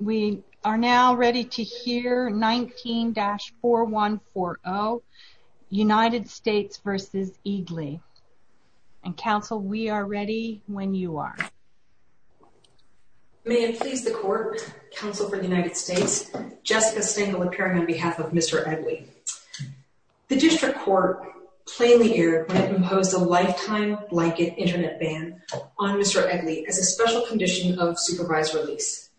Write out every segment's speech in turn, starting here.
We are now ready to hear 19-4140, United States v. Egli, and counsel we are ready when you are. May it please the court, counsel for the United States, Jessica Stengel appearing on behalf of Mr. Egli. The district court plainly erred when it imposed a lifetime blanket internet ban on Mr. Egli as a special condition of supervised release.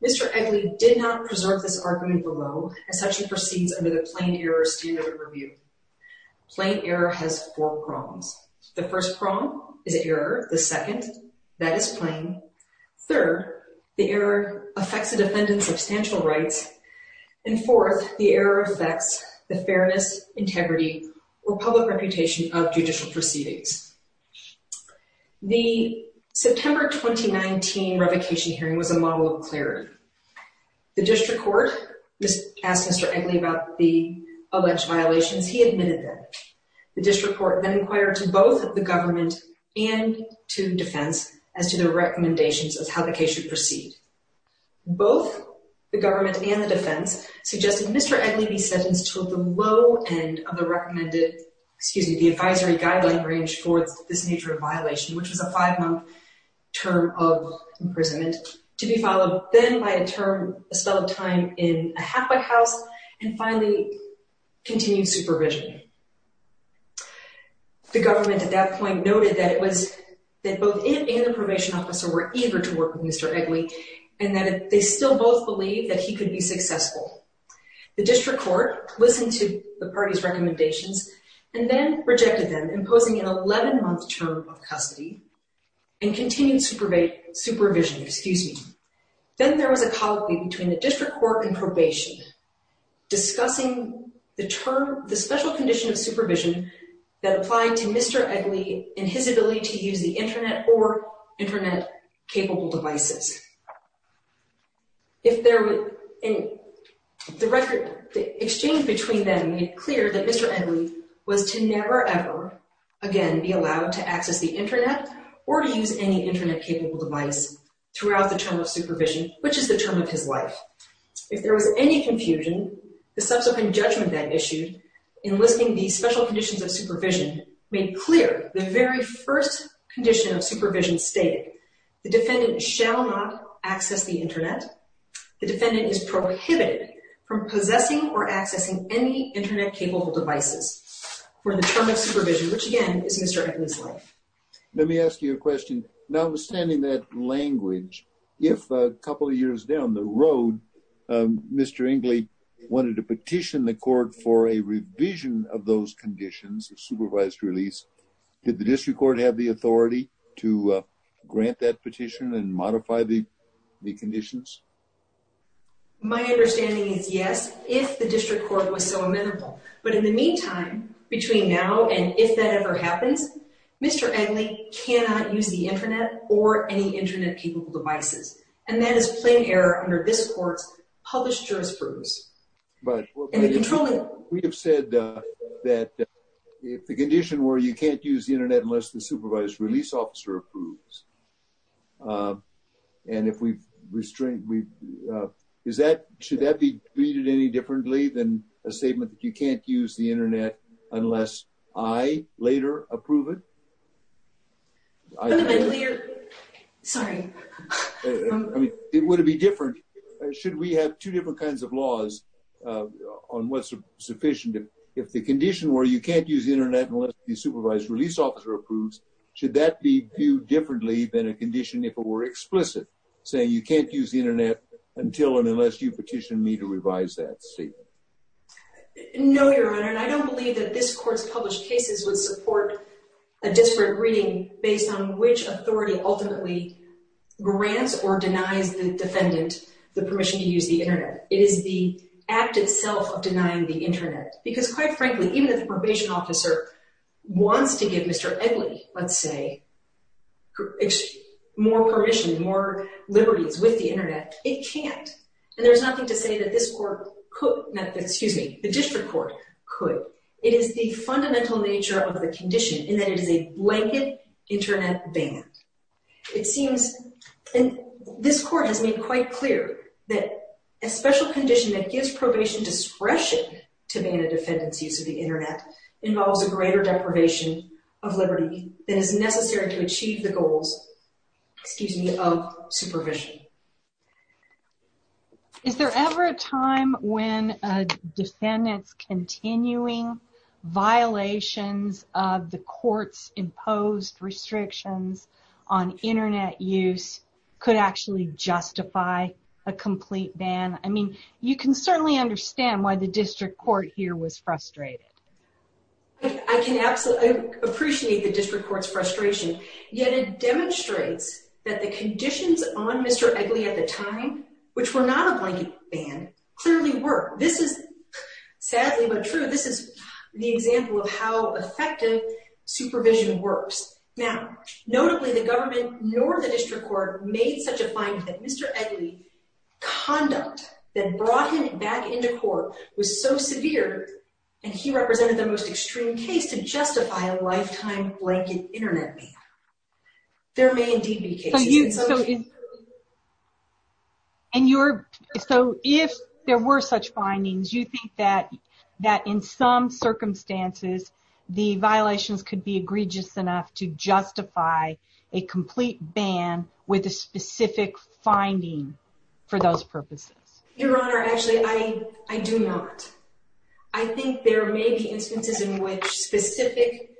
Mr. Egli did not preserve this argument below as such he proceeds under the plain error standard review. Plain error has four prongs. The first prong is error. The second, that is plain. Third, the error affects the defendant's substantial rights. And fourth, the error affects the fairness, integrity, or public reputation of judicial proceedings. The September 2019 revocation hearing was a model of clarity. The district court asked Mr. Egli about the alleged violations. He admitted them. The district court then inquired to both the government and to defense as to the recommendations of how the case should proceed. Both the government and the defense suggested Mr. Egli be sentenced to the low end of the recommended, excuse me, the advisory guideline range for this nature of violation, which was a five-month term of imprisonment, to be followed then by a term, a spell of time in a halfway house, and finally continued supervision. The government at that point noted that it was, that both it and the probation officer were eager to work with Mr. Egli and that they still both believed that he could be successful. The district court listened to the party's recommendations and then rejected them, imposing an 11-month term of custody and continued supervision, excuse me. Then there was a colloquy between the district court and probation discussing the term, the special condition of supervision that applied to Mr. Egli and his ability to use the Internet or Internet-capable devices. The exchange between them made clear that Mr. Egli was to never ever again be allowed to access the Internet or to use any Internet-capable device throughout the term of supervision, which is the term of his life. If there was any confusion, the subsequent judgment that issued enlisting the special conditions of supervision made clear the very first condition of supervision stating the defendant shall not access the Internet. The defendant is prohibited from possessing or accessing any Internet-capable devices for the term of supervision, which again is Mr. Egli's life. Let me ask you a question. Notwithstanding that language, if a couple of years down the road, Mr. Egli wanted to petition the court for a revision of those conditions of supervised release, did the district court have the authority to grant that petition and modify the conditions? My understanding is yes, if the district court was so amenable. But in the meantime, between now and if that ever happens, Mr. Egli cannot use the Internet or any Internet-capable devices. And that is plain error under this court's published jurisprudence. We have said that if the condition were you can't use the Internet unless the supervised release officer approves, should that be treated any differently than a statement that you can't use the Internet unless I later approve it? Fundamentally, you're... sorry. I mean, would it be different? Should we have two different kinds of laws on what's sufficient? If the condition were you can't use the Internet unless the supervised release officer approves, should that be viewed differently than a condition if it were explicit, saying you can't use the Internet until and unless you petition me to revise that statement? No, Your Honor. And I don't believe that this court's published cases would support a disparate reading based on which authority ultimately grants or denies the defendant the permission to use the Internet. It is the act itself of denying the Internet. Because quite frankly, even if the probation officer wants to give Mr. Egli, let's say, more permission, more liberties with the Internet, it can't. And there's nothing to say that this court could... excuse me, the district court could. It is the fundamental nature of the condition in that it is a blanket Internet ban. It seems... and this court has made quite clear that a special condition that gives probation discretion to ban a defendant's use of the Internet involves a greater deprivation of liberty than is necessary to achieve the goals, excuse me, of supervision. Is there ever a time when a defendant's continuing violations of the court's imposed restrictions on Internet use could actually justify a complete ban? I mean, you can certainly understand why the district court here was frustrated. I can absolutely appreciate the district court's frustration, yet it demonstrates that the conditions on Mr. Egli at the time, which were not a blanket ban, clearly were. This is sadly but true. This is the example of how effective supervision works. Now, notably, the government nor the district court made such a finding that Mr. Egli's conduct that brought him back into court was so severe, and he represented the most extreme case to justify a lifetime blanket Internet ban. There may indeed be cases... And you're... so if there were such findings, you think that in some circumstances the violations could be egregious enough to justify a complete ban with a specific finding for those purposes? Your Honor, actually, I do not. I think there may be instances in which specific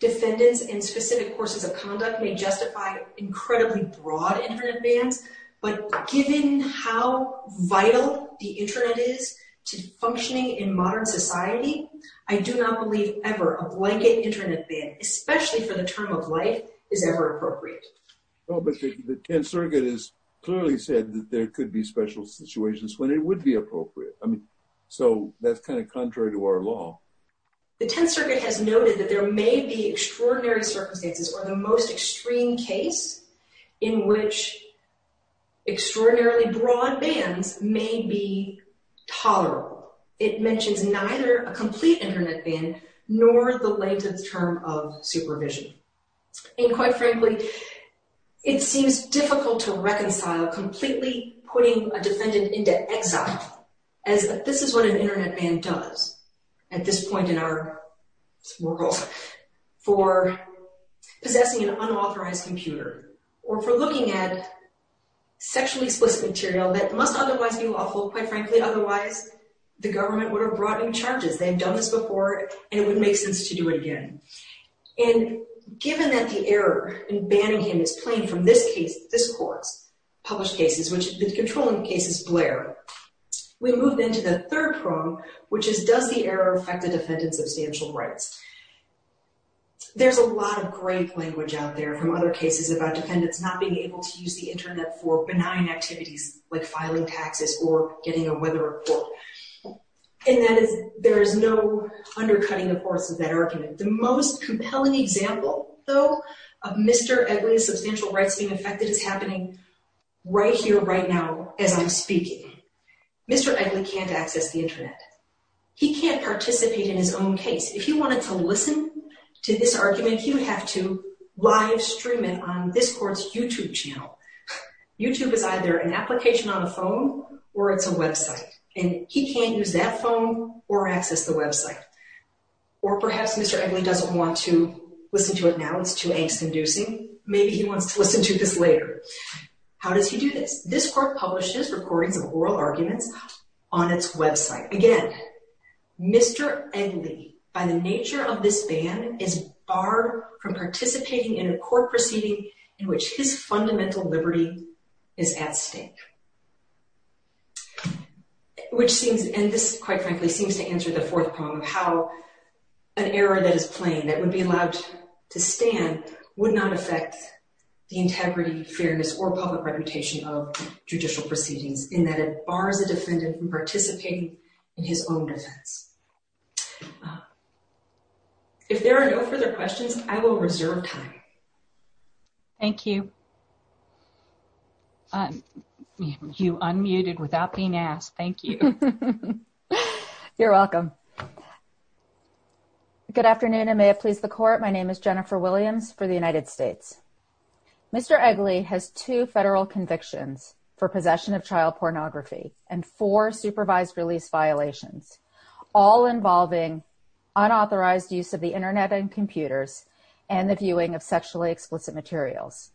defendants and specific courses of conduct may justify incredibly broad Internet bans, but given how vital the Internet is to functioning in modern society, I do not believe ever a blanket Internet ban, especially for the term of life, is ever appropriate. Well, but the Tenth Circuit has clearly said that there could be special situations when it would be appropriate. I mean, so that's kind of contrary to our law. The Tenth Circuit has noted that there may be extraordinary circumstances or the most extreme case in which extraordinarily broad bans may be tolerable. It mentions neither a complete Internet ban nor the length of term of supervision. And quite frankly, it seems difficult to reconcile completely putting a defendant into exile, as this is what an Internet ban does at this point in our world, for possessing an unauthorized computer or for looking at sexually explicit material that must otherwise be lawful. Quite frankly, otherwise, the government would have brought in charges. They've done this before, and it wouldn't make sense to do it again. And given that the error in banning him is plain from this case, this court's published cases, which the controlling case is Blair, we move then to the third problem, which is does the error affect the defendant's substantial rights? There's a lot of great language out there from other cases about defendants not being able to use the Internet for benign activities like filing taxes or getting a weather report. And there is no undercutting, of course, of that argument. The most compelling example, though, of Mr. Edley's substantial rights being affected is happening right here, right now, as I'm speaking. Mr. Edley can't access the Internet. He can't participate in his own case. If he wanted to listen to this argument, he would have to live stream it on this court's YouTube channel. YouTube is either an application on a phone or it's a website, and he can't use that phone or access the website. Or perhaps Mr. Edley doesn't want to listen to it now. It's too angst-inducing. Maybe he wants to listen to this later. How does he do this? This court publishes recordings of oral arguments on its website. Again, Mr. Edley, by the nature of this ban, is barred from participating in a court proceeding in which his fundamental liberty is at stake. And this, quite frankly, seems to answer the fourth problem of how an error that is plain, that would be allowed to stand, would not affect the integrity, fairness, or public reputation of judicial proceedings, in that it bars a defendant from participating in his own defense. If there are no further questions, I will reserve time. Thank you. You unmuted without being asked. Thank you. You're welcome. Good afternoon, and may it please the court, my name is Jennifer Williams for the United States. Mr. Edley has two federal convictions for possession of child pornography and four supervised release violations, all involving unauthorized use of the Internet and computers and the viewing of sexually explicit materials.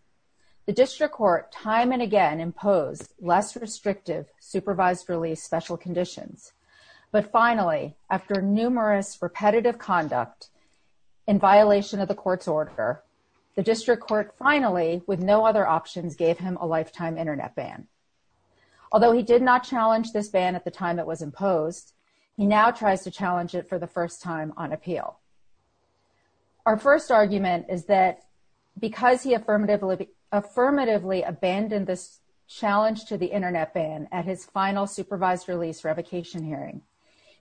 The district court time and again imposed less restrictive supervised release special conditions, but finally, after numerous repetitive conduct in violation of the court's order, the district court finally, with no other options, gave him a lifetime Internet ban. Although he did not challenge this ban at the time it was imposed, he now tries to challenge it for the first time on appeal. Our first argument is that because he affirmatively abandoned this challenge to the Internet ban at his final supervised release revocation hearing,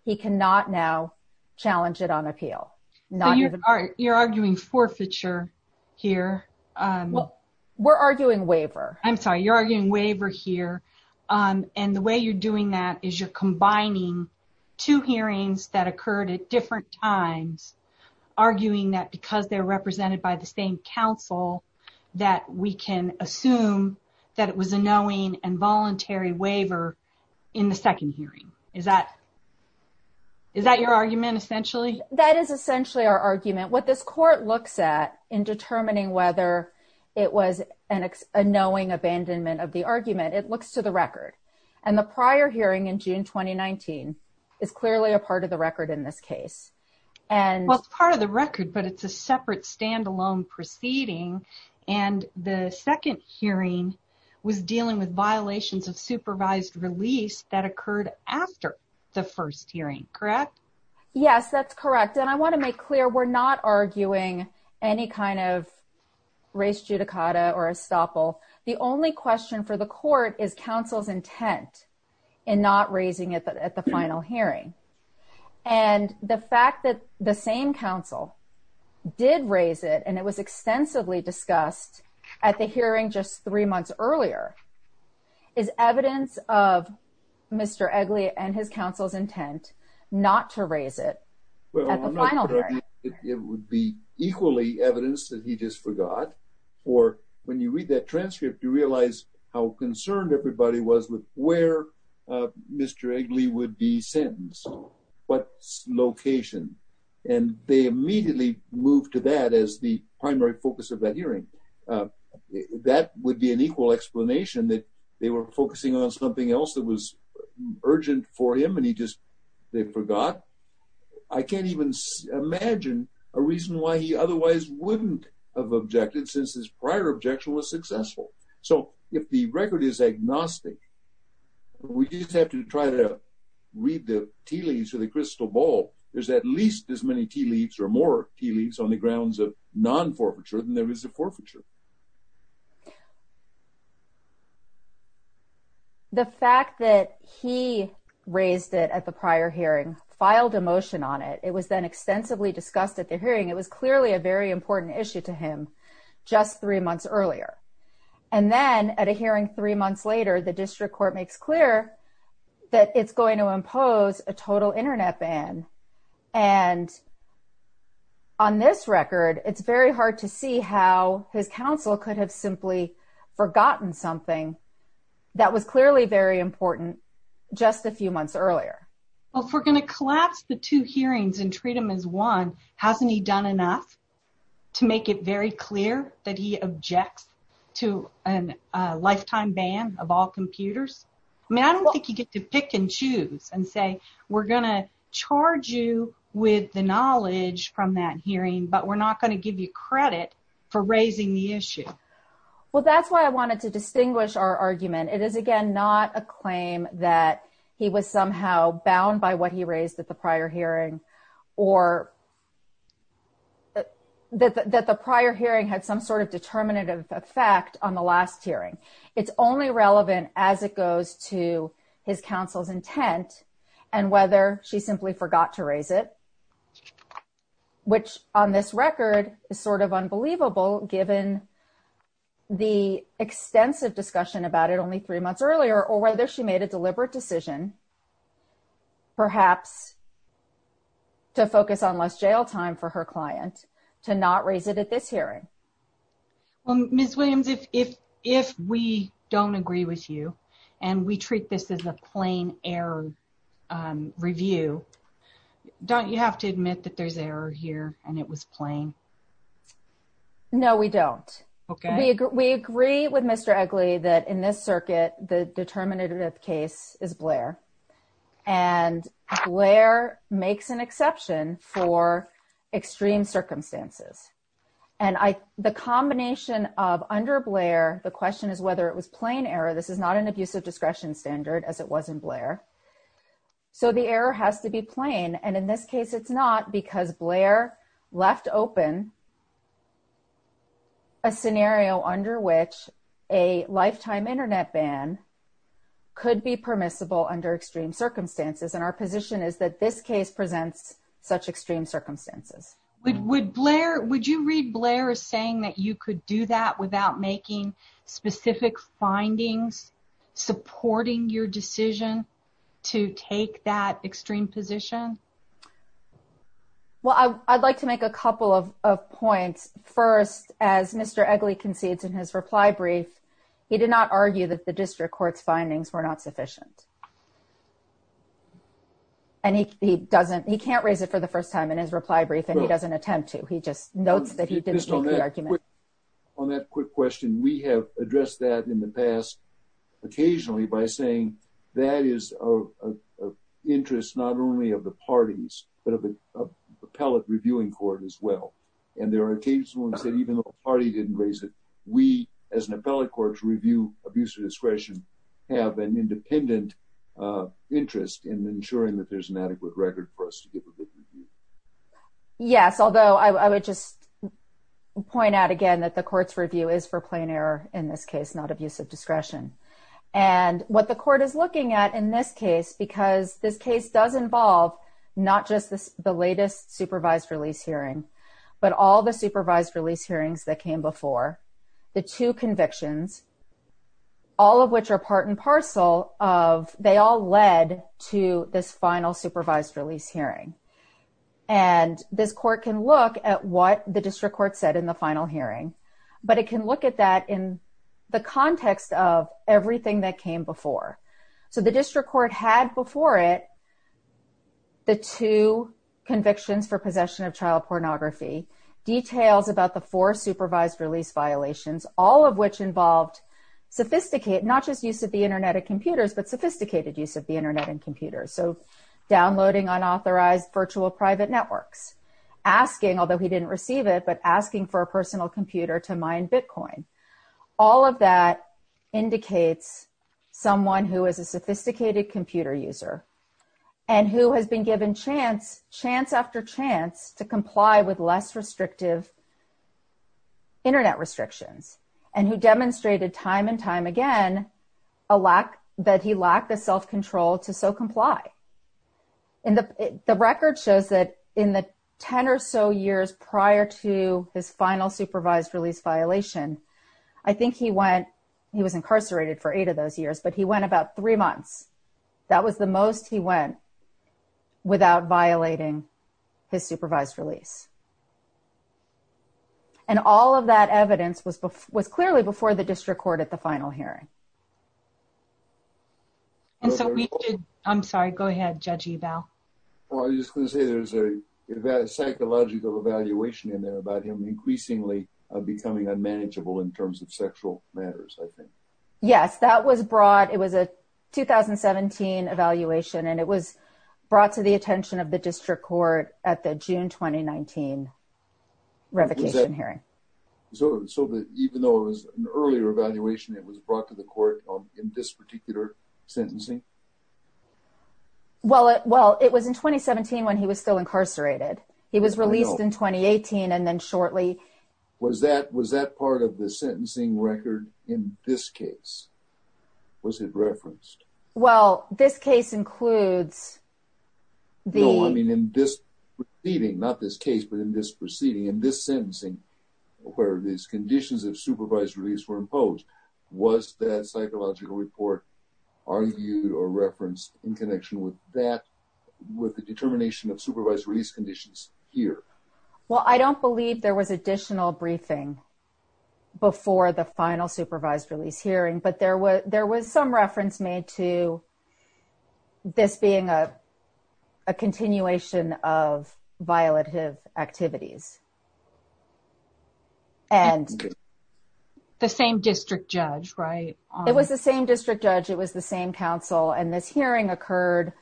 he cannot now challenge it on appeal. You're arguing forfeiture here. We're arguing waiver. I'm sorry, you're arguing waiver here, and the way you're doing that is you're combining two hearings that occurred at different times, arguing that because they're represented by the same counsel, that we can assume that it was a knowing and voluntary waiver in the second hearing. Is that your argument, essentially? That is essentially our argument. What this court looks at in determining whether it was a knowing abandonment of the argument, it looks to the record, and the prior hearing in June 2019 is clearly a part of the record in this case. Well, it's part of the record, but it's a separate stand-alone proceeding, and the second hearing was dealing with violations of supervised release that occurred after the first hearing, correct? Yes, that's correct, and I want to make clear we're not arguing any kind of res judicata or estoppel. The only question for the court is counsel's intent in not raising it at the final hearing, and the fact that the same counsel did raise it, and it was extensively discussed at the hearing just three months earlier, is evidence of Mr. Eggley and his counsel's intent not to raise it at the final hearing? It would be equally evidence that he just forgot, or when you read that transcript, you realize how concerned everybody was with where Mr. Eggley would be sentenced, what location, and they immediately moved to that as the primary focus of that hearing. That would be an equal explanation that they were focusing on something else that was urgent for him, and he just forgot. I can't even imagine a reason why he otherwise wouldn't have objected since his prior objection was successful. So, if the record is agnostic, we just have to try to read the tea leaves or the crystal ball. There's at least as many tea leaves or more tea leaves on the grounds of non-forfeiture than there is of forfeiture. The fact that he raised it at the prior hearing filed a motion on it. It was then extensively discussed at the hearing. It was clearly a very important issue to him just three months earlier, and then at a hearing three months later, the district court makes clear that it's going to impose a total Internet ban, and on this record, it's very hard to see how his counsel could have simply forgotten something that was clearly very important just a few months earlier. Well, if we're going to collapse the two hearings and treat him as one, hasn't he done enough to make it very clear that he objects to a lifetime ban of all computers? I mean, I don't think you get to pick and choose and say, we're going to charge you with the knowledge from that hearing, but we're not going to give you credit for raising the issue. Well, that's why I wanted to distinguish our argument. It is, again, not a claim that he was somehow bound by what he raised at the prior hearing or that the prior hearing had some sort of determinative effect on the last hearing. It's only relevant as it goes to his counsel's intent and whether she simply forgot to raise it, which on this record is sort of unbelievable given the extensive discussion about it only three months earlier or whether she made a deliberate decision perhaps to focus on less jail time for her client to not raise it at this hearing. Ms. Williams, if we don't agree with you and we treat this as a plain error review, don't you have to admit that there's error here and it was plain? No, we don't. Okay. We agree with Mr. Egley that in this circuit, the determinative case is Blair, and Blair makes an exception for extreme circumstances. And the combination of under Blair, the question is whether it was plain error. This is not an abusive discretion standard as it was in Blair. So the error has to be plain. And in this case, it's not because Blair left open a scenario under which a lifetime Internet ban could be permissible under extreme circumstances. And our position is that this case presents such extreme circumstances. Would you read Blair as saying that you could do that without making specific findings supporting your decision to take that extreme position? Well, I'd like to make a couple of points. First, as Mr. Egley concedes in his reply brief, he did not argue that the district court's findings were not sufficient. And he can't raise it for the first time in his reply brief, and he doesn't attempt to. He just notes that he didn't take the argument. On that quick question, we have addressed that in the past occasionally by saying that is of interest not only of the parties, but of the appellate reviewing court as well. And there are cases that even though the party didn't raise it, we, as an appellate court to review abusive discretion, have an independent interest in ensuring that there's an adequate record for us to give a good review. Yes, although I would just point out again that the court's review is for plain error in this case, not abusive discretion. And what the court is looking at in this case, because this case does involve not just the latest supervised release hearing, but all the supervised release hearings that came before, the two convictions, all of which are part and parcel of they all led to this final supervised release hearing. And this court can look at what the district court said in the final hearing, but it can look at that in the context of everything that came before. So the district court had before it the two convictions for possession of child pornography, details about the four supervised release violations, all of which involved sophisticated, not just use of the Internet and computers, but sophisticated use of the Internet and computers. So downloading unauthorized virtual private networks, asking, although he didn't receive it, but asking for a personal computer to mine Bitcoin. All of that indicates someone who is a sophisticated computer user, and who has been given chance, chance after chance to comply with less restrictive Internet restrictions, and who demonstrated time and time again, a lack that he lacked the self control to so comply. And the record shows that in the 10 or so years prior to his final supervised release violation, I think he went, he was incarcerated for eight of those years, but he went about three months. That was the most he went without violating his supervised release. And all of that evidence was was clearly before the district court at the final hearing. And so we did, I'm sorry, go ahead, judge eval. Well, I was gonna say there's a psychological evaluation in there about him increasingly becoming unmanageable in terms of sexual matters, I think. Yes, that was brought, it was a 2017 evaluation, and it was brought to the attention of the district court at the June 2019 revocation hearing. So even though it was an earlier evaluation, it was brought to the court in this particular sentencing? Well, it was in 2017, when he was still incarcerated, he was released in 2018. And then shortly. Was that was that part of the sentencing record in this case? Was it referenced? Well, this case includes the... No, I mean, in this proceeding, not this case, but in this proceeding, in this sentencing, where these conditions of supervised release were imposed, was that psychological report argued or referenced in connection with that, with the determination of supervised release conditions here? Well, I don't believe there was additional briefing before the final supervised release hearing, but there was there was some reference made to this being a continuation of violative activities. And the same district judge, right? It was the same district judge, it was the same counsel, and this hearing occurred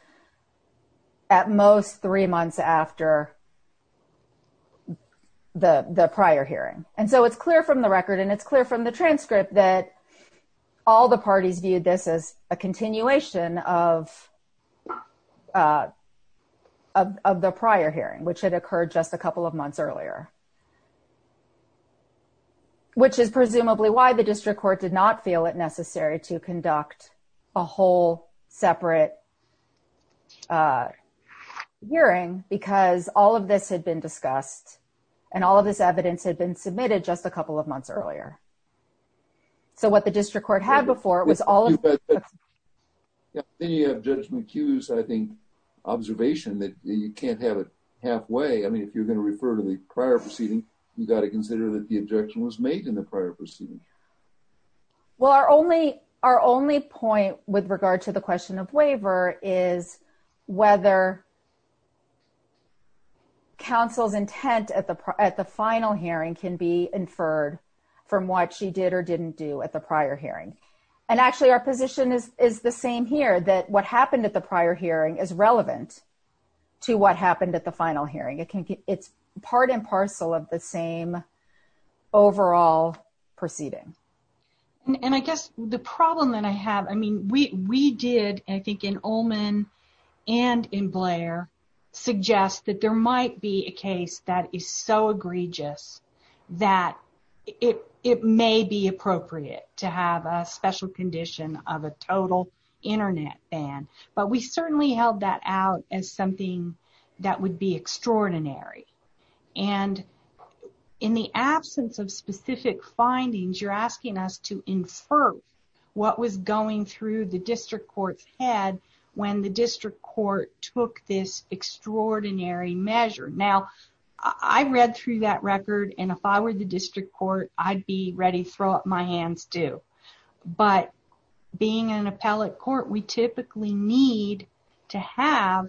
at most three months after the prior hearing. And so it's clear from the record, and it's clear from the transcript that all the parties viewed this as a continuation of the prior hearing, which had occurred just a couple of months earlier. Which is presumably why the district court did not feel it necessary to conduct a whole separate hearing, because all of this had been discussed. And all of this evidence had been submitted just a couple of months earlier. So what the district court had before was all... Then you have Judge McHugh's, I think, observation that you can't have it halfway. I mean, if you're going to refer to the prior proceeding, you got to consider that the objection was made in the prior proceeding. Well, our only point with regard to the question of waiver is whether counsel's intent at the final hearing can be inferred from what she did or didn't do at the prior hearing. And actually, our position is the same here, that what happened at the prior hearing is relevant to what happened at the final hearing. It's part and parcel of the same overall proceeding. And I guess the problem that I have, I mean, we did, I think in Ullman and in Blair, suggest that there might be a case that is so egregious that it may be appropriate to have a special condition of a total internet ban. But we certainly held that out as something that would be extraordinary. And in the absence of specific findings, you're asking us to infer what was going through the district court's head when the district court took this extraordinary measure. Now, I read through that record, and if I were the district court, I'd be ready to throw up my hands, too. But being an appellate court, we typically need to have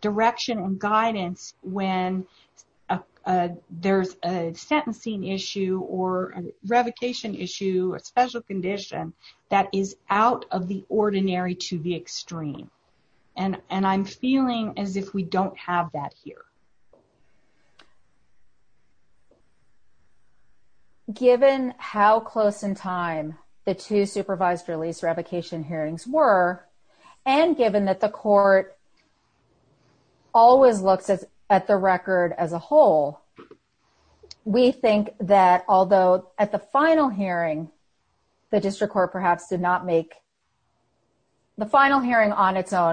direction and guidance when there's a sentencing issue or a revocation issue, a special condition that is out of the ordinary to the extreme. And I'm feeling as if we don't have that here.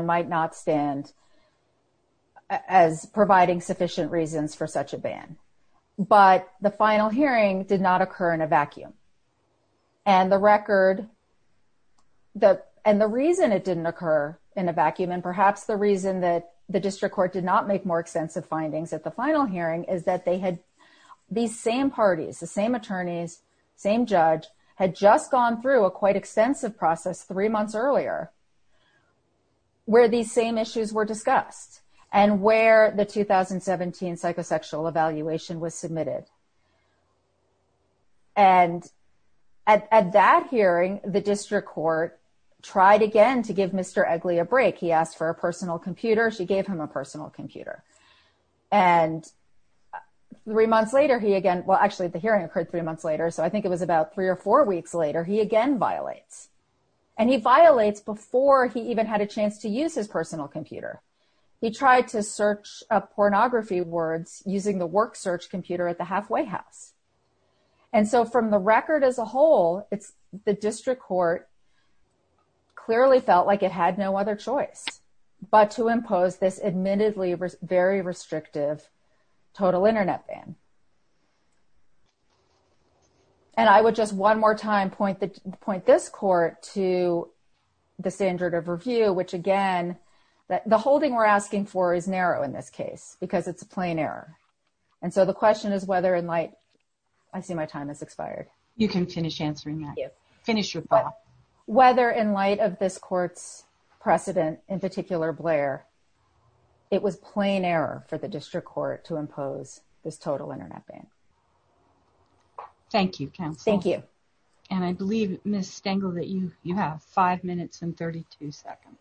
might not stand as providing sufficient reasons for such a ban. But the final hearing did not occur in a vacuum. And the record that and the reason it didn't occur in a vacuum, and perhaps the reason that the district court did not make more extensive findings at the final hearing is that they had these same parties, the same attorneys, same judge had just gone through a quite extensive process three months earlier. Where these same issues were discussed, and where the 2017 psychosexual evaluation was submitted. And at that hearing, the district court tried again to give Mr. Egli a break, he asked for a personal computer, she gave him a personal computer. And three months later, he again, well, actually, the hearing occurred three months later. So I think it was about three or four weeks later, he again violates. And he violates before he even had a chance to use his personal computer. He tried to search a pornography words using the work search computer at the halfway house. And so from the record as a whole, it's the district court clearly felt like it had no other choice, but to impose this admittedly very restrictive total internet ban. And I would just one more time point this court to the standard of review, which again, that the holding we're asking for is narrow in this case, because it's a plain error. And so the question is whether in light, I see my time has expired. You can finish answering that. Whether in light of this court's precedent, in particular Blair, it was plain error for the district court to impose this total internet ban. Thank you, counsel. Thank you. And I believe Ms. Stengel that you have five minutes and 32 seconds.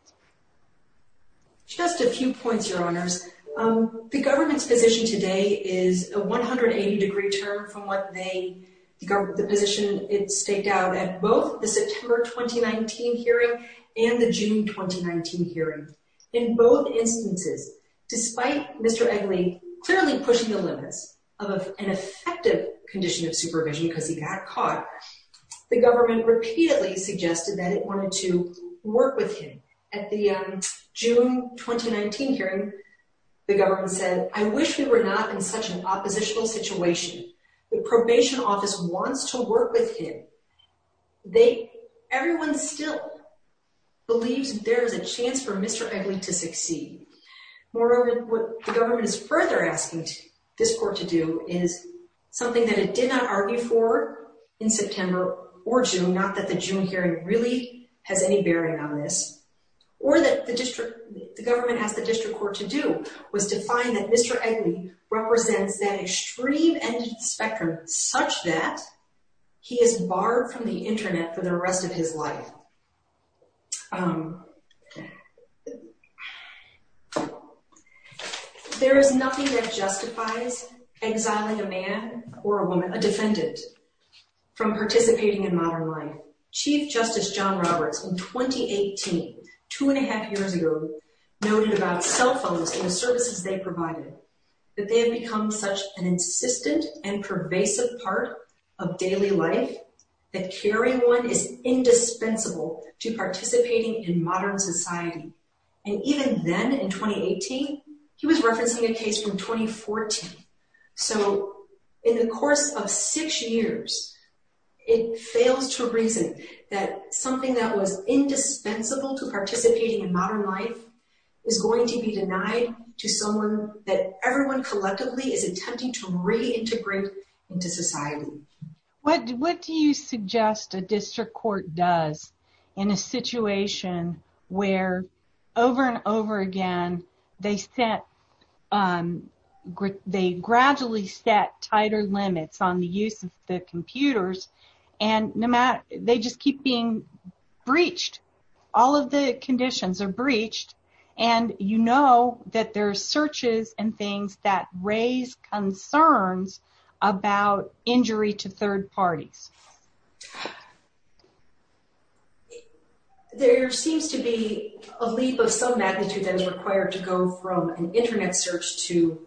Just a few points, your honors. The government's position today is a 180 degree turn from what they, the position it staked out at both the September 2019 hearing and the June 2019 hearing. In both instances, despite Mr. Eggly clearly pushing the limits of an effective condition of supervision because he got caught. The government repeatedly suggested that it wanted to work with him. At the June 2019 hearing, the government said, I wish we were not in such an oppositional situation. The probation office wants to work with him. They, everyone still believes there is a chance for Mr. Eggly to succeed. Moreover, what the government is further asking this court to do is something that it did not argue for in September or June, not that the June hearing really has any bearing on this. Or that the district, the government asked the district court to do was to find that Mr. Eggly represents that extreme end of the spectrum such that he is barred from the internet for the rest of his life. There is nothing that justifies exiling a man or a woman, a defendant from participating in modern life. Chief Justice John Roberts in 2018, two and a half years ago, noted about cell phones and the services they provided, that they have become such an insistent and pervasive part of daily life that carrying one is indispensable to participating in modern society. And even then in 2018, he was referencing a case from 2014. So, in the course of six years, it fails to reason that something that was indispensable to participating in modern life is going to be denied to someone that everyone collectively is attempting to reintegrate into society. What do you suggest a district court does in a situation where over and over again, they set, they gradually set tighter limits on the use of the computers and no matter, they just keep being breached. All of the conditions are breached and you know that there are searches and things that raise concerns about injury to third parties. There seems to be a leap of some magnitude that is required to go from an internet search to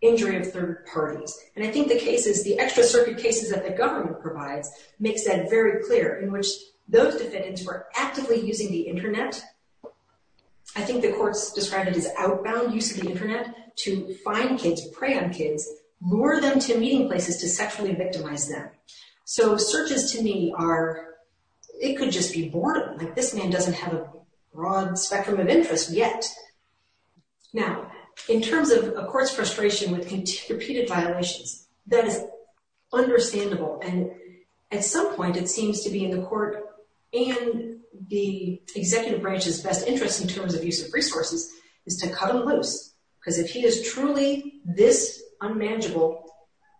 injury of third parties. And I think the cases, the extra circuit cases that the government provides makes that very clear in which those defendants were actively using the internet. I think the courts described it as outbound use of the internet to find kids, prey on kids, lure them to meeting places to sexually victimize them. So, searches to me are, it could just be boredom, like this man doesn't have a broad spectrum of interest yet. Now, in terms of a court's frustration with repeated violations, that is understandable. And at some point, it seems to be in the court and the executive branch's best interest in terms of use of resources is to cut him loose. Because if he is truly this unmanageable,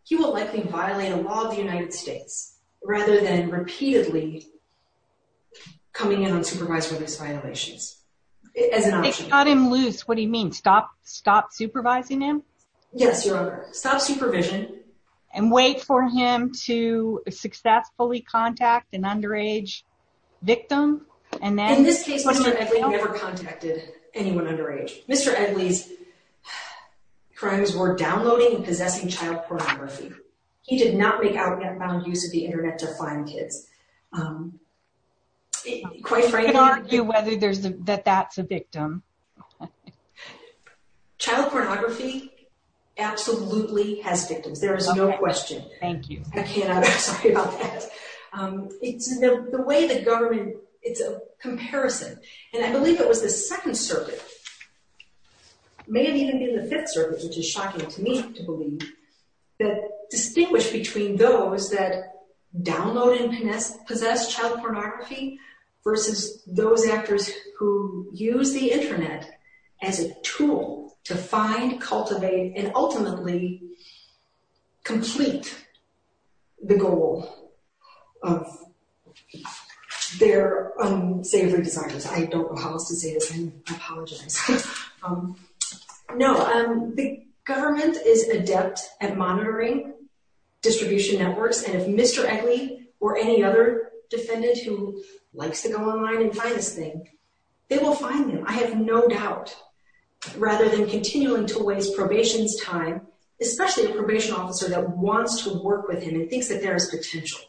he will likely violate a law of the United States rather than repeatedly coming in unsupervised for these violations. If they cut him loose, what do you mean? Stop supervising him? Yes, Your Honor. Stop supervision. And wait for him to successfully contact an underage victim? In this case, Mr. Edley never contacted anyone underage. Mr. Edley's crimes were downloading and possessing child pornography. He did not make outbound use of the internet to find kids. You could argue that that's a victim. Child pornography absolutely has victims. There is no question. Thank you. I cannot, I'm sorry about that. It's the way the government, it's a comparison. And I believe it was the Second Circuit, may have even been the Fifth Circuit, which is shocking to me to believe, that distinguish between those that download and possess child pornography versus those actors who use the internet as a tool to find, cultivate, and ultimately complete the goal of their saving desires. I don't know how else to say this. I apologize. No, the government is adept at monitoring distribution networks. And if Mr. Edley or any other defendant who likes to go online and find this thing, they will find him, I have no doubt. Rather than continuing to waste probation's time, especially a probation officer that wants to work with him and thinks that there is potential.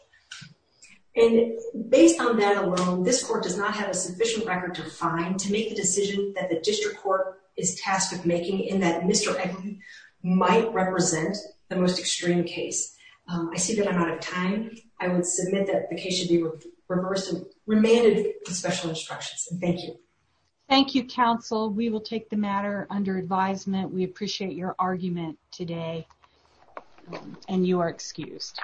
And based on that alone, this court does not have a sufficient record to find to make the decision that the district court is tasked with making in that Mr. Edley might represent the most extreme case. I see that I'm out of time. I would submit that the case should be reversed and remanded with special instructions. Thank you. Thank you, counsel. We will take the matter under advisement. We appreciate your argument today. And you are excused.